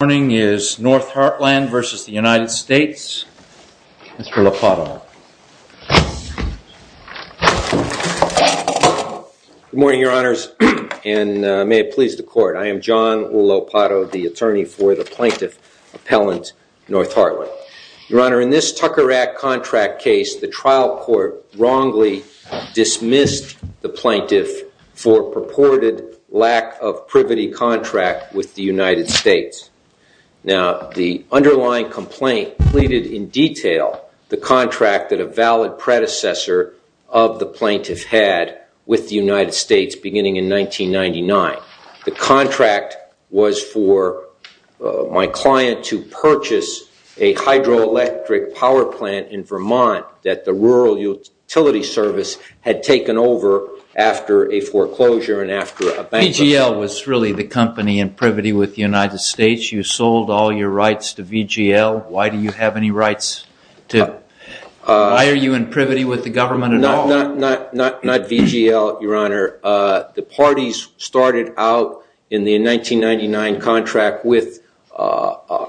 North Heartland v. United States. Mr. Lopato. Good morning, your honors, and may it please the court. I am John Lopato, the attorney for the plaintiff appellant North Hartland. Your honor, in this Tucker Act contract case, the trial court wrongly dismissed the plaintiff for purported lack of privity contract with the United States. Now, the underlying complaint pleaded in detail the contract that a valid predecessor of the plaintiff had with the United States beginning in 1999. The contract was for my client to purchase a hydroelectric power plant in Vermont that the Rural Utility Service had taken over after a foreclosure and after a bankruptcy. VGL was really the company in privity with the United States. You sold all your rights to VGL. Why do you have any rights? Why are you in privity with the government at all? Not VGL, your honor. The parties started out in the 1999 contract with a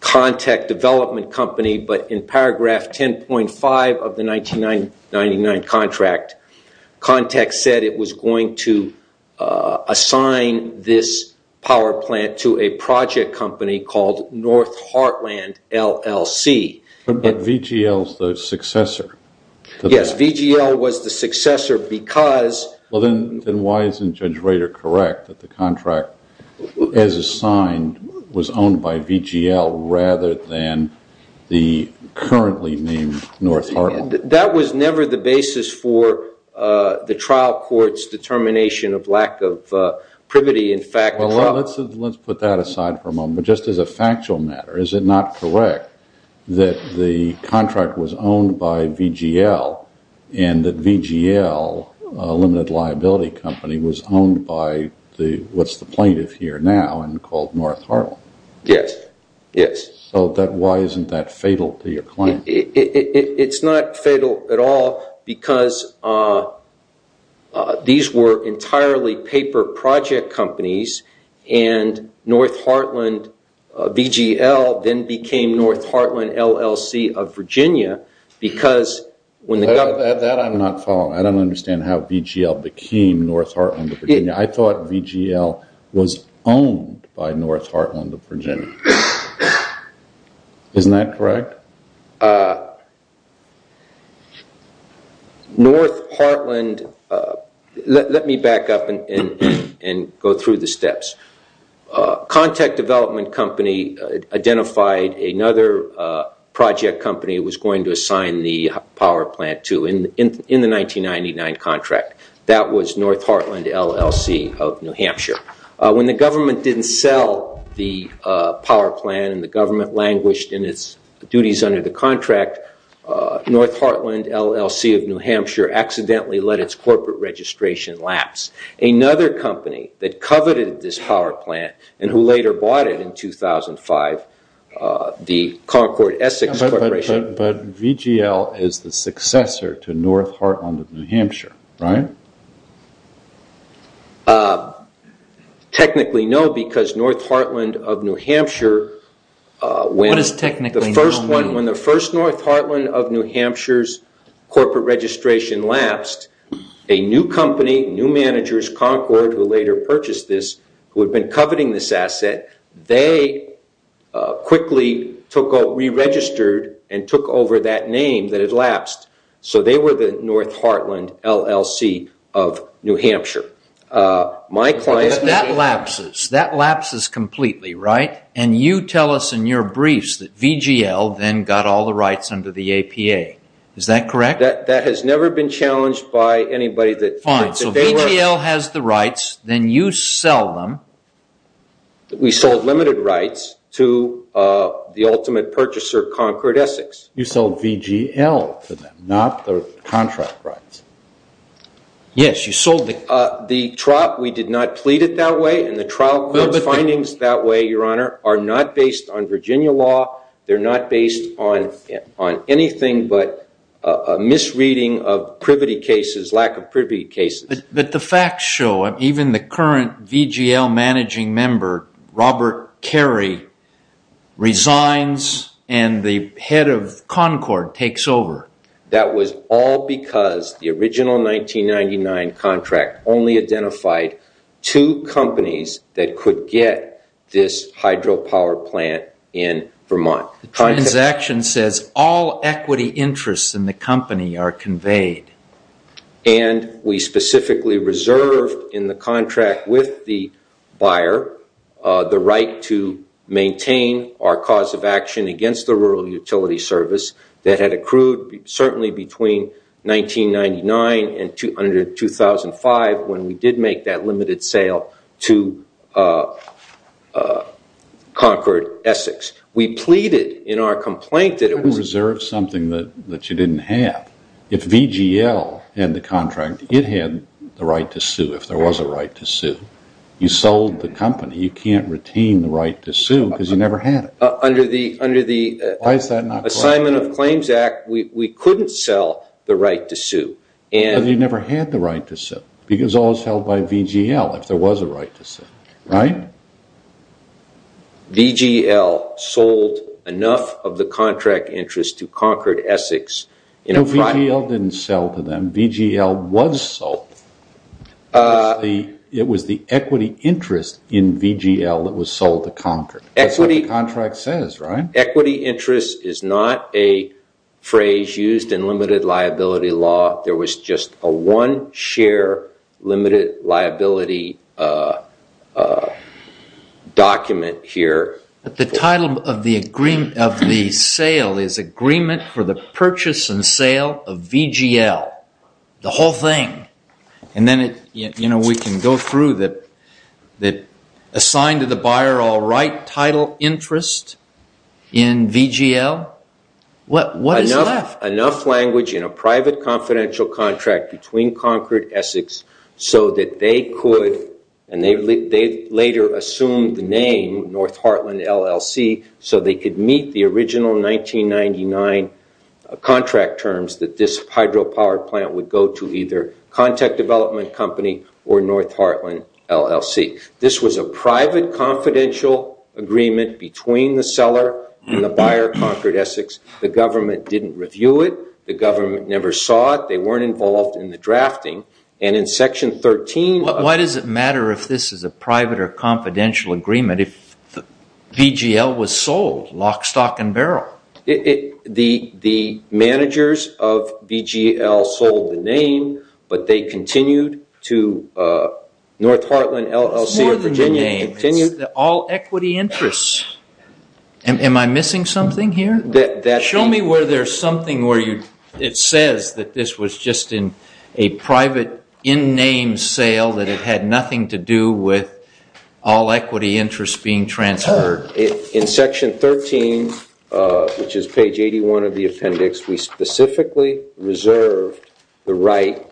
contact development company, but in paragraph 10.5 of the 1999 contract, contact said it was going to assign this power plant to a project company called North Heartland LLC. But VGL is the successor. Yes, VGL was the successor because... Then why isn't Judge Rader correct that the contract as assigned was owned by VGL rather than the currently named North Hartland? That was never the basis for the trial court's determination of lack of privity. Let's put that aside for a moment. But just as a factual matter, is it not correct that the contract was owned by VGL and that VGL, a limited liability company, was owned by what's the plaintiff here now and called North Hartland? Yes. So why isn't that fatal to your client? It's not fatal at all because these were entirely paper project companies and North Hartland VGL then became North Hartland LLC of Virginia because when the government... That I'm not following. I don't understand how VGL became North Hartland of Virginia. I thought VGL was owned by North Hartland of Virginia. Isn't that correct? No. North Hartland... Let me back up and go through the steps. Contact Development Company identified another project company it was going to assign the power plant to in the 1999 contract. That was North Hartland LLC of New Hampshire. When the government didn't sell the power plant and the government languished in its duties under the contract, North Hartland LLC of New Hampshire accidentally let its corporate registration lapse. Another company that coveted this power plant and who later bought it in 2005, the Concord Essex Corporation... North Hartland of New Hampshire, right? Technically no because North Hartland of New Hampshire... What does technically no mean? They were the North Hartland LLC of New Hampshire. That lapses completely, right? And you tell us in your briefs that VGL then got all the rights under the APA. Is that correct? That has never been challenged by anybody that... Fine. So VGL has the rights, then you sell them... We sold limited rights to the ultimate purchaser, Concord Essex. You sold VGL to them, not the contract rights. Yes, you sold the... The trial, we did not plead it that way and the trial court findings that way, Your Honor, are not based on Virginia law. They're not based on anything but a misreading of privity cases, lack of privity cases. But the facts show, even the current VGL managing member, Robert Carey, resigns and the head of Concord takes over. That was all because the original 1999 contract only identified two companies that could get this hydropower plant in Vermont. The transaction says all equity interests in the company are conveyed. And we specifically reserved in the contract with the buyer the right to maintain our cause of action against the rural utility service that had accrued certainly between 1999 and 2005 when we did make that limited sale to Concord Essex. We pleaded in our complaint that it was... VGL and the contract, it had the right to sue if there was a right to sue. You sold the company, you can't retain the right to sue because you never had it. Under the... Why is that not... Assignment of Claims Act, we couldn't sell the right to sue and... But you never had the right to sue because all was held by VGL if there was a right to sue, right? VGL sold enough of the contract interest to Concord Essex... VGL didn't sell to them. VGL was sold. It was the equity interest in VGL that was sold to Concord. Equity... That's what the contract says, right? Equity interest is not a phrase used in limited liability law. There was just a one share limited liability document here. But the title of the sale is Agreement for the Purchase and Sale of VGL, the whole thing. And then we can go through that assigned to the buyer all right title interest in VGL. What is left? Enough language in a private confidential contract between Concord Essex so that they could... So they could meet the original 1999 contract terms that this hydropower plant would go to either contact development company or North Heartland LLC. This was a private confidential agreement between the seller and the buyer, Concord Essex. The government didn't review it. The government never saw it. They weren't involved in the drafting. And in Section 13... What does it matter if this is a private or confidential agreement if VGL was sold lock, stock, and barrel? The managers of VGL sold the name, but they continued to North Heartland LLC of Virginia... It's more than the name. It's all equity interests. Am I missing something here? Show me where there's something where it says that this was just in a private in-name sale that it had nothing to do with all equity interest being transferred. In Section 13, which is page 81 of the appendix, we specifically reserved the right...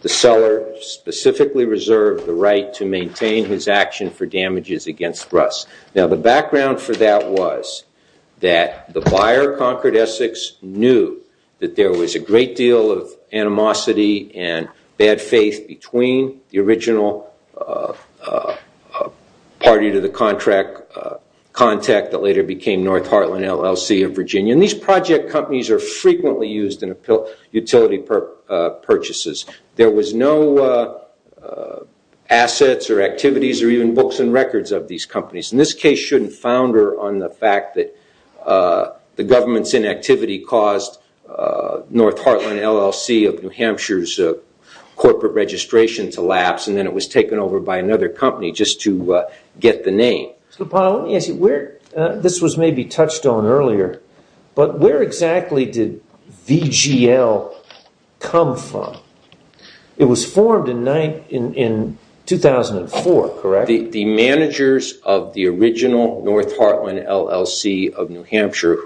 The seller specifically reserved the right to maintain his action for damages against Russ. Now, the background for that was that the buyer, Concord Essex, knew that there was a great deal of animosity and bad faith between the original party to the contract contact that later became North Heartland LLC of Virginia. And these project companies are frequently used in utility purchases. There was no assets or activities or even books and records of these companies. And this case shouldn't founder on the fact that the government's inactivity caused North Heartland LLC of New Hampshire's corporate registration to lapse and then it was taken over by another company just to get the name. This was maybe touched on earlier, but where exactly did VGL come from? It was formed in 2004, correct? The managers of the original North Heartland LLC of New Hampshire,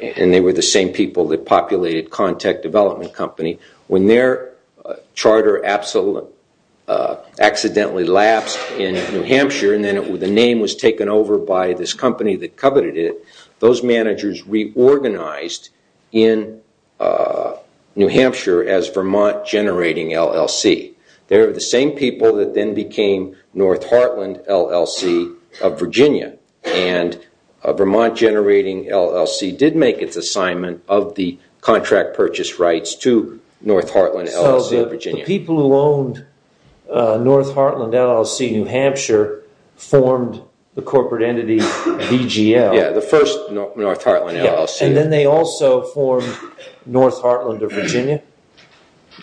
and they were the same people that populated Contact Development Company, when their charter accidentally lapsed in New Hampshire and then the name was taken over by this company that coveted it, those managers reorganized in New Hampshire as Vermont Generating LLC. They were the same people that then became North Heartland LLC of Virginia. And Vermont Generating LLC did make its assignment of the contract purchase rights to North Heartland LLC of Virginia. So the people who owned North Heartland LLC of New Hampshire formed the corporate entity VGL. Yeah, the first North Heartland LLC. And then they also formed North Heartland of Virginia?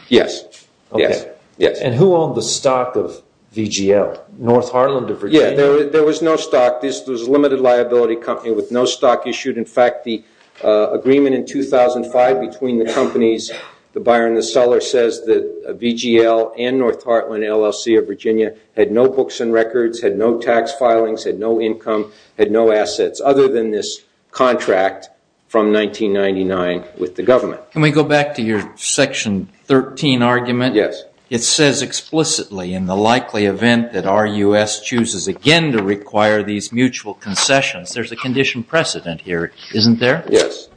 Yes. And who owned the stock of VGL, North Heartland of Virginia? Yeah, there was no stock. This was a limited liability company with no stock issued. In fact, the agreement in 2005 between the companies, the buyer and the seller, says that VGL and North Heartland LLC of Virginia had no books and records, had no tax filings, had no income, had no assets other than this contract from 1999 with the government. Can we go back to your Section 13 argument? Yes. It says explicitly, in the likely event that RUS chooses again to require these mutual concessions, there's a condition precedent here, isn't there? Yes.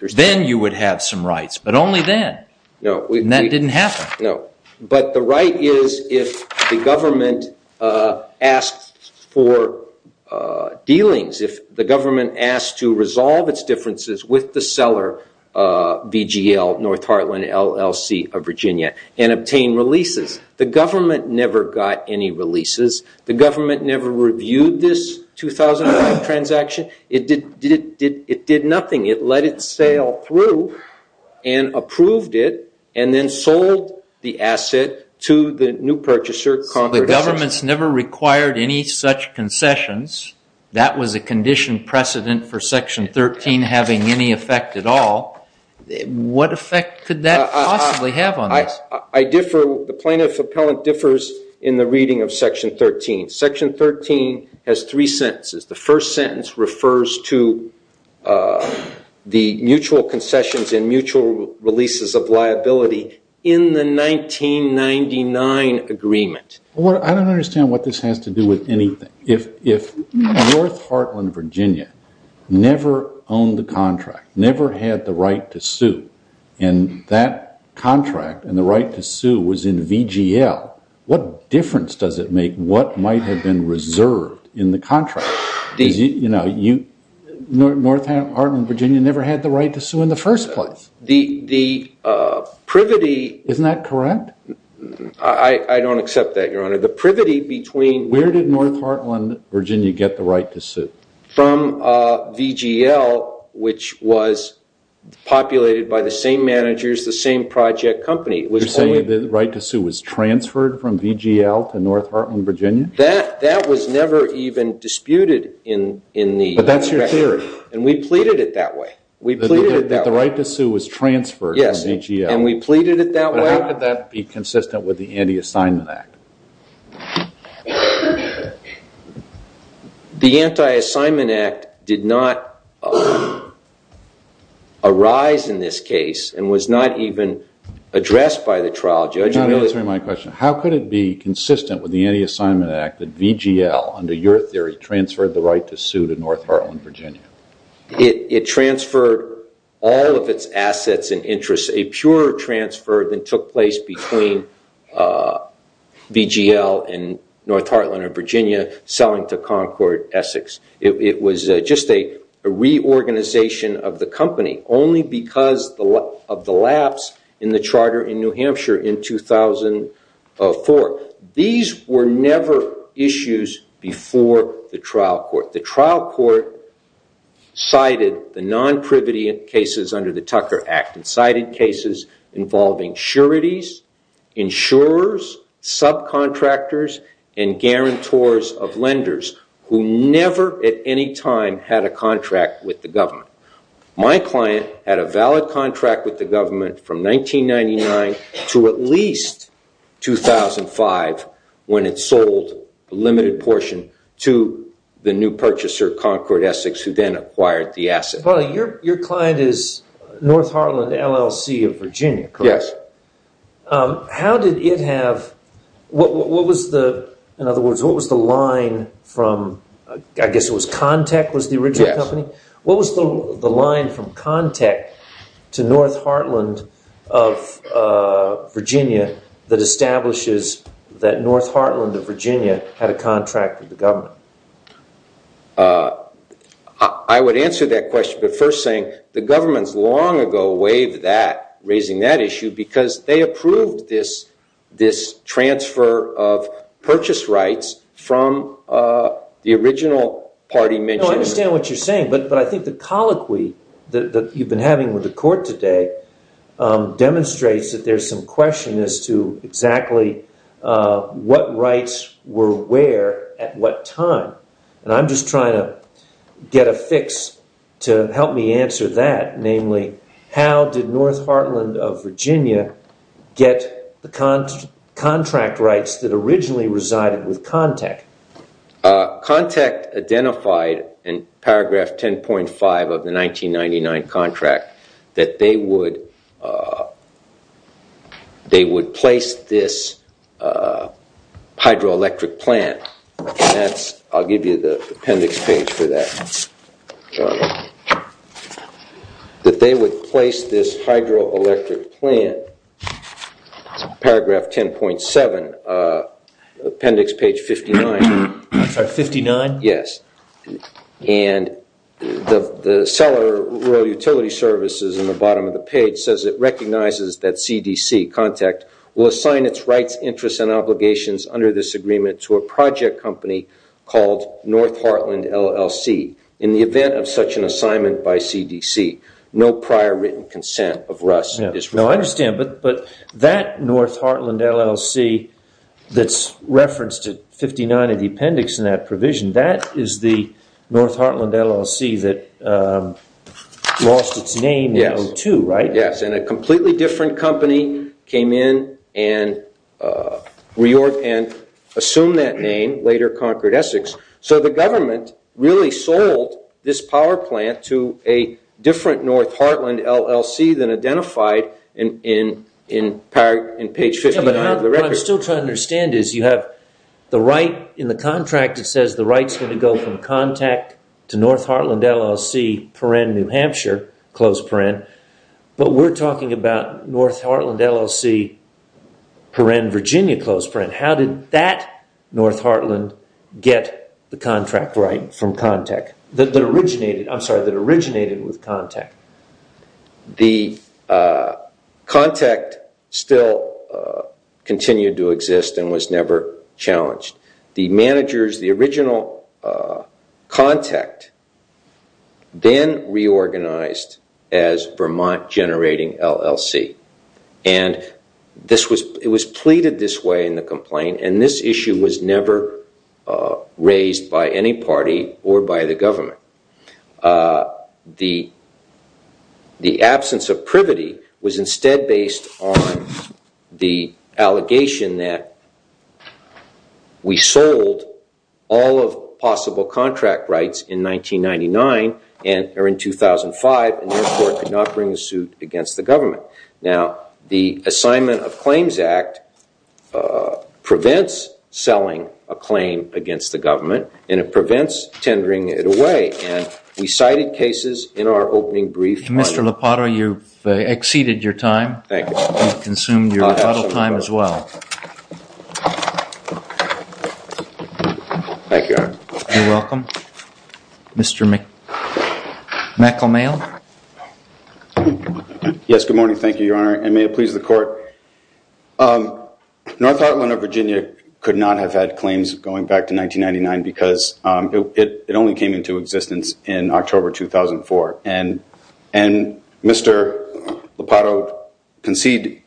Then you would have some rights, but only then. And that didn't happen. No. But the right is if the government asks for dealings, if the government asks to resolve its differences with the seller, VGL, North Heartland LLC of Virginia, and obtain releases. The government never got any releases. The government never reviewed this 2005 transaction. It did nothing. It let it sail through and approved it and then sold the asset to the new purchaser. So the government's never required any such concessions. That was a condition precedent for Section 13 having any effect at all. What effect could that possibly have on this? I differ. The plaintiff appellant differs in the reading of Section 13. Section 13 has three sentences. The first sentence refers to the mutual concessions and mutual releases of liability in the 1999 agreement. I don't understand what this has to do with anything. If North Heartland, Virginia never owned the contract, never had the right to sue, and that contract and the right to sue was in VGL, what difference does it make what might have been reserved in the contract? North Heartland, Virginia never had the right to sue in the first place. Isn't that correct? I don't accept that, Your Honor. Where did North Heartland, Virginia get the right to sue? From VGL, which was populated by the same managers, the same project company. You're saying the right to sue was transferred from VGL to North Heartland, Virginia? That was never even disputed in the contract. But that's your theory. And we pleaded it that way. That the right to sue was transferred from VGL. Yes, and we pleaded it that way. But how could that be consistent with the Anti-Assignment Act? The Anti-Assignment Act did not arise in this case and was not even addressed by the trial judge. You're not answering my question. How could it be consistent with the Anti-Assignment Act that VGL, under your theory, transferred the right to sue to North Heartland, Virginia? It transferred all of its assets and interests, a pure transfer that took place between VGL and North Heartland and Virginia, selling to Concord Essex. It was just a reorganization of the company, only because of the lapse in the charter in New Hampshire in 2004. These were never issues before the trial court. The trial court cited the non-privity cases under the Tucker Act and cited cases involving sureties, insurers, subcontractors, and guarantors of lenders who never at any time had a contract with the government. My client had a valid contract with the government from 1999 to at least 2005 when it sold a limited portion to the new purchaser, Concord Essex, who then acquired the assets. Your client is North Heartland LLC of Virginia, correct? Yes. How did it have— in other words, what was the line from— I guess it was Contech was the original company? Yes. What was the line from Contech to North Heartland of Virginia that establishes that North Heartland of Virginia had a contract with the government? I would answer that question by first saying the government long ago waived that, raising that issue, because they approved this transfer of purchase rights from the original party mentioned. I understand what you're saying, but I think the colloquy that you've been having with the court today demonstrates that there's some question as to exactly what rights were where at what time. I'm just trying to get a fix to help me answer that, namely, how did North Heartland of Virginia get the contract rights that originally resided with Contech? Contech identified in paragraph 10.5 of the 1999 contract that they would place this hydroelectric plant. I'll give you the appendix page for that. That they would place this hydroelectric plant, paragraph 10.7, appendix page 59. I'm sorry, 59? Yes. And the seller, Rural Utility Services, in the bottom of the page, says it recognizes that CDC, Contech, will assign its rights, interests, and obligations under this agreement to a project company called North Heartland LLC. In the event of such an assignment by CDC, no prior written consent of RUS is required. I understand, but that North Heartland LLC that's referenced at 59 in the appendix in that provision, that is the North Heartland LLC that lost its name in 2002, right? Yes, and a completely different company came in and assumed that name, later Concord Essex. So the government really sold this power plant to a different North Heartland LLC than identified in page 59 of the record. What I'm still trying to understand is you have the right in the contract, it says the right's going to go from Contech to North Heartland LLC, New Hampshire, but we're talking about North Heartland LLC, Virginia. How did that North Heartland get the contract right from Contech that originated with Contech? The Contech still continued to exist and was never challenged. The managers, the original contact, then reorganized as Vermont Generating LLC. It was pleaded this way in the complaint and this issue was never raised by any party or by the government. The absence of privity was instead based on the allegation that we sold all of possible contract rights in 1999 or in 2005 and therefore could not bring a suit against the government. The Assignment of Claims Act prevents selling a claim against the government and it prevents tendering it away. We cited cases in our opening brief. Mr. Lopato, you've exceeded your time. Thank you. You've consumed your time as well. Thank you. You're welcome. Mr. McElmail? Yes, good morning. Thank you, Your Honor, and may it please the court. North Heartland of Virginia could not have had claims going back to 1999 because it only came into existence in October 2004. And Mr. Lopato concedes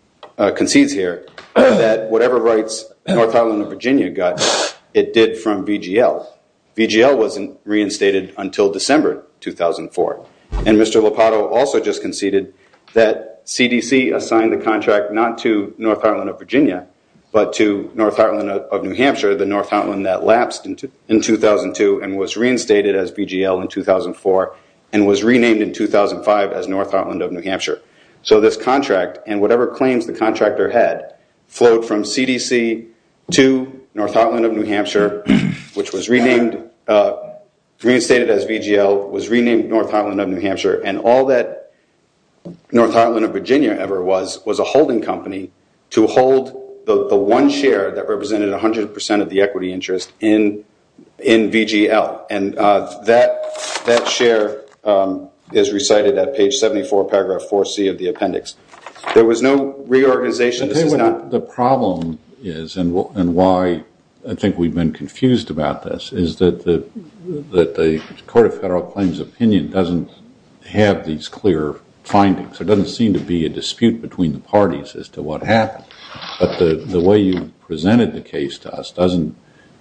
here that whatever rights North Heartland of Virginia got, it did from VGL. VGL wasn't reinstated until December 2004. And Mr. Lopato also just conceded that CDC assigned the contract not to North Heartland of Virginia but to North Heartland of New Hampshire, the North Heartland that lapsed in 2002 and was reinstated as VGL in 2004 and was renamed in 2005 as North Heartland of New Hampshire. So this contract and whatever claims the contractor had flowed from CDC to North Heartland of New Hampshire, which was renamed, reinstated as VGL, was renamed North Heartland of New Hampshire, and all that North Heartland of Virginia ever was was a holding company to hold the one share that represented 100 percent of the equity interest in VGL. And that share is recited at page 74, paragraph 4C of the appendix. There was no reorganization. The problem is, and why I think we've been confused about this, is that the Court of Federal Claims opinion doesn't have these clear findings. There doesn't seem to be a dispute between the parties as to what happened. But the way you presented the case to us didn't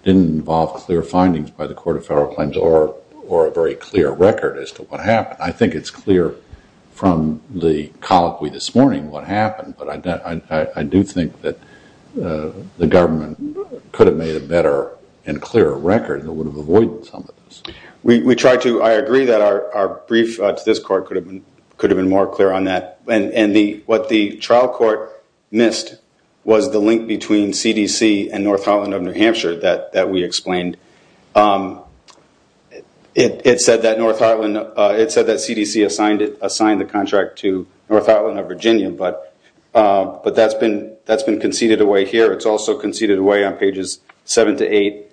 involve clear findings by the Court of Federal Claims or a very clear record as to what happened. I think it's clear from the colloquy this morning what happened, but I do think that the government could have made a better and clearer record that would have avoided some of this. I agree that our brief to this Court could have been more clear on that. And what the trial court missed was the link between CDC and North Heartland of New Hampshire that we explained. It said that CDC assigned the contract to North Heartland of Virginia, but that's been conceded away here. It's also conceded away on pages 7 to 8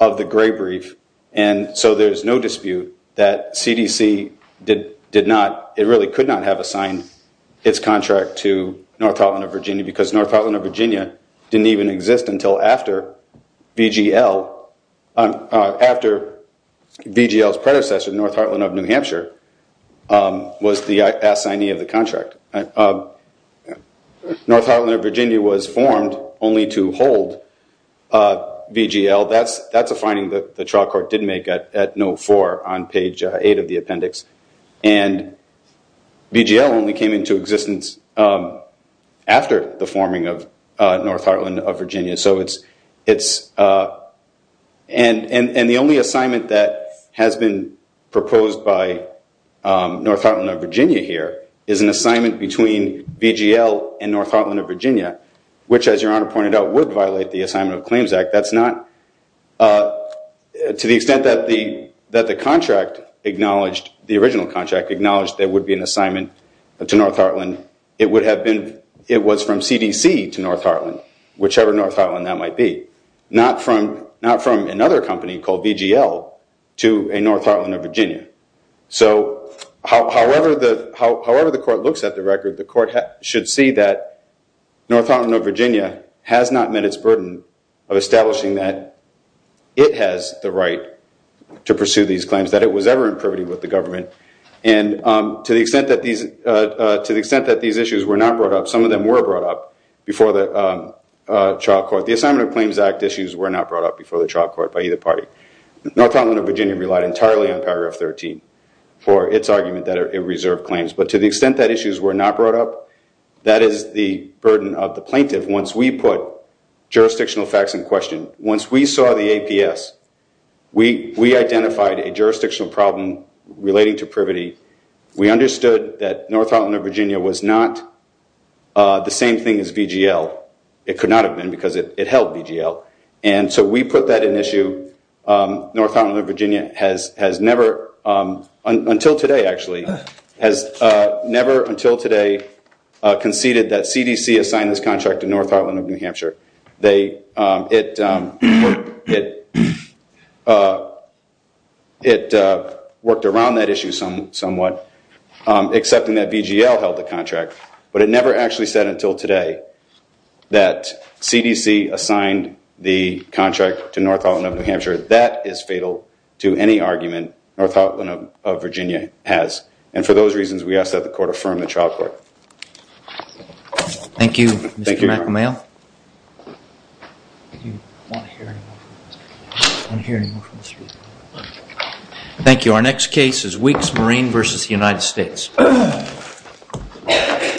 of the Gray Brief. And so there's no dispute that CDC did not, it really could not have assigned its contract to North Heartland of Virginia because North Heartland of Virginia didn't even exist until after VGL, after VGL's predecessor, North Heartland of New Hampshire, was the assignee of the contract. North Heartland of Virginia was formed only to hold VGL. That's a finding that the trial court did make at note 4 on page 8 of the appendix. And VGL only came into existence after the forming of North Heartland of Virginia. And the only assignment that has been proposed by North Heartland of Virginia here is an assignment between VGL and North Heartland of Virginia, which, as your Honor pointed out, would violate the Assignment of Claims Act. To the extent that the original contract acknowledged there would be an assignment to North Heartland, it was from CDC to North Heartland, whichever North Heartland that might be, not from another company called VGL to a North Heartland of Virginia. So however the court looks at the record, the court should see that North Heartland of Virginia has not met its burden of establishing that it has the right to pursue these claims, that it was ever in privity with the government. And to the extent that these issues were not brought up, some of them were brought up before the trial court. The Assignment of Claims Act issues were not brought up before the trial court by either party. North Heartland of Virginia relied entirely on paragraph 13 for its argument that it reserved claims. But to the extent that issues were not brought up, that is the burden of the plaintiff. Once we put jurisdictional facts in question, once we saw the APS, we identified a jurisdictional problem relating to privity. We understood that North Heartland of Virginia was not the same thing as VGL. It could not have been because it held VGL. And so we put that in issue. North Heartland of Virginia has never, until today actually, has never, until today, conceded that CDC assigned this contract to North Heartland of New Hampshire. It worked around that issue somewhat, accepting that VGL held the contract. But it never actually said, until today, that CDC assigned the contract to North Heartland of New Hampshire. That is fatal to any argument North Heartland of Virginia has. And for those reasons, we ask that the court affirm the trial court. Thank you, Mr. McAmel. Thank you. Our next case is Weeks Marine v. United States. We'll be right back.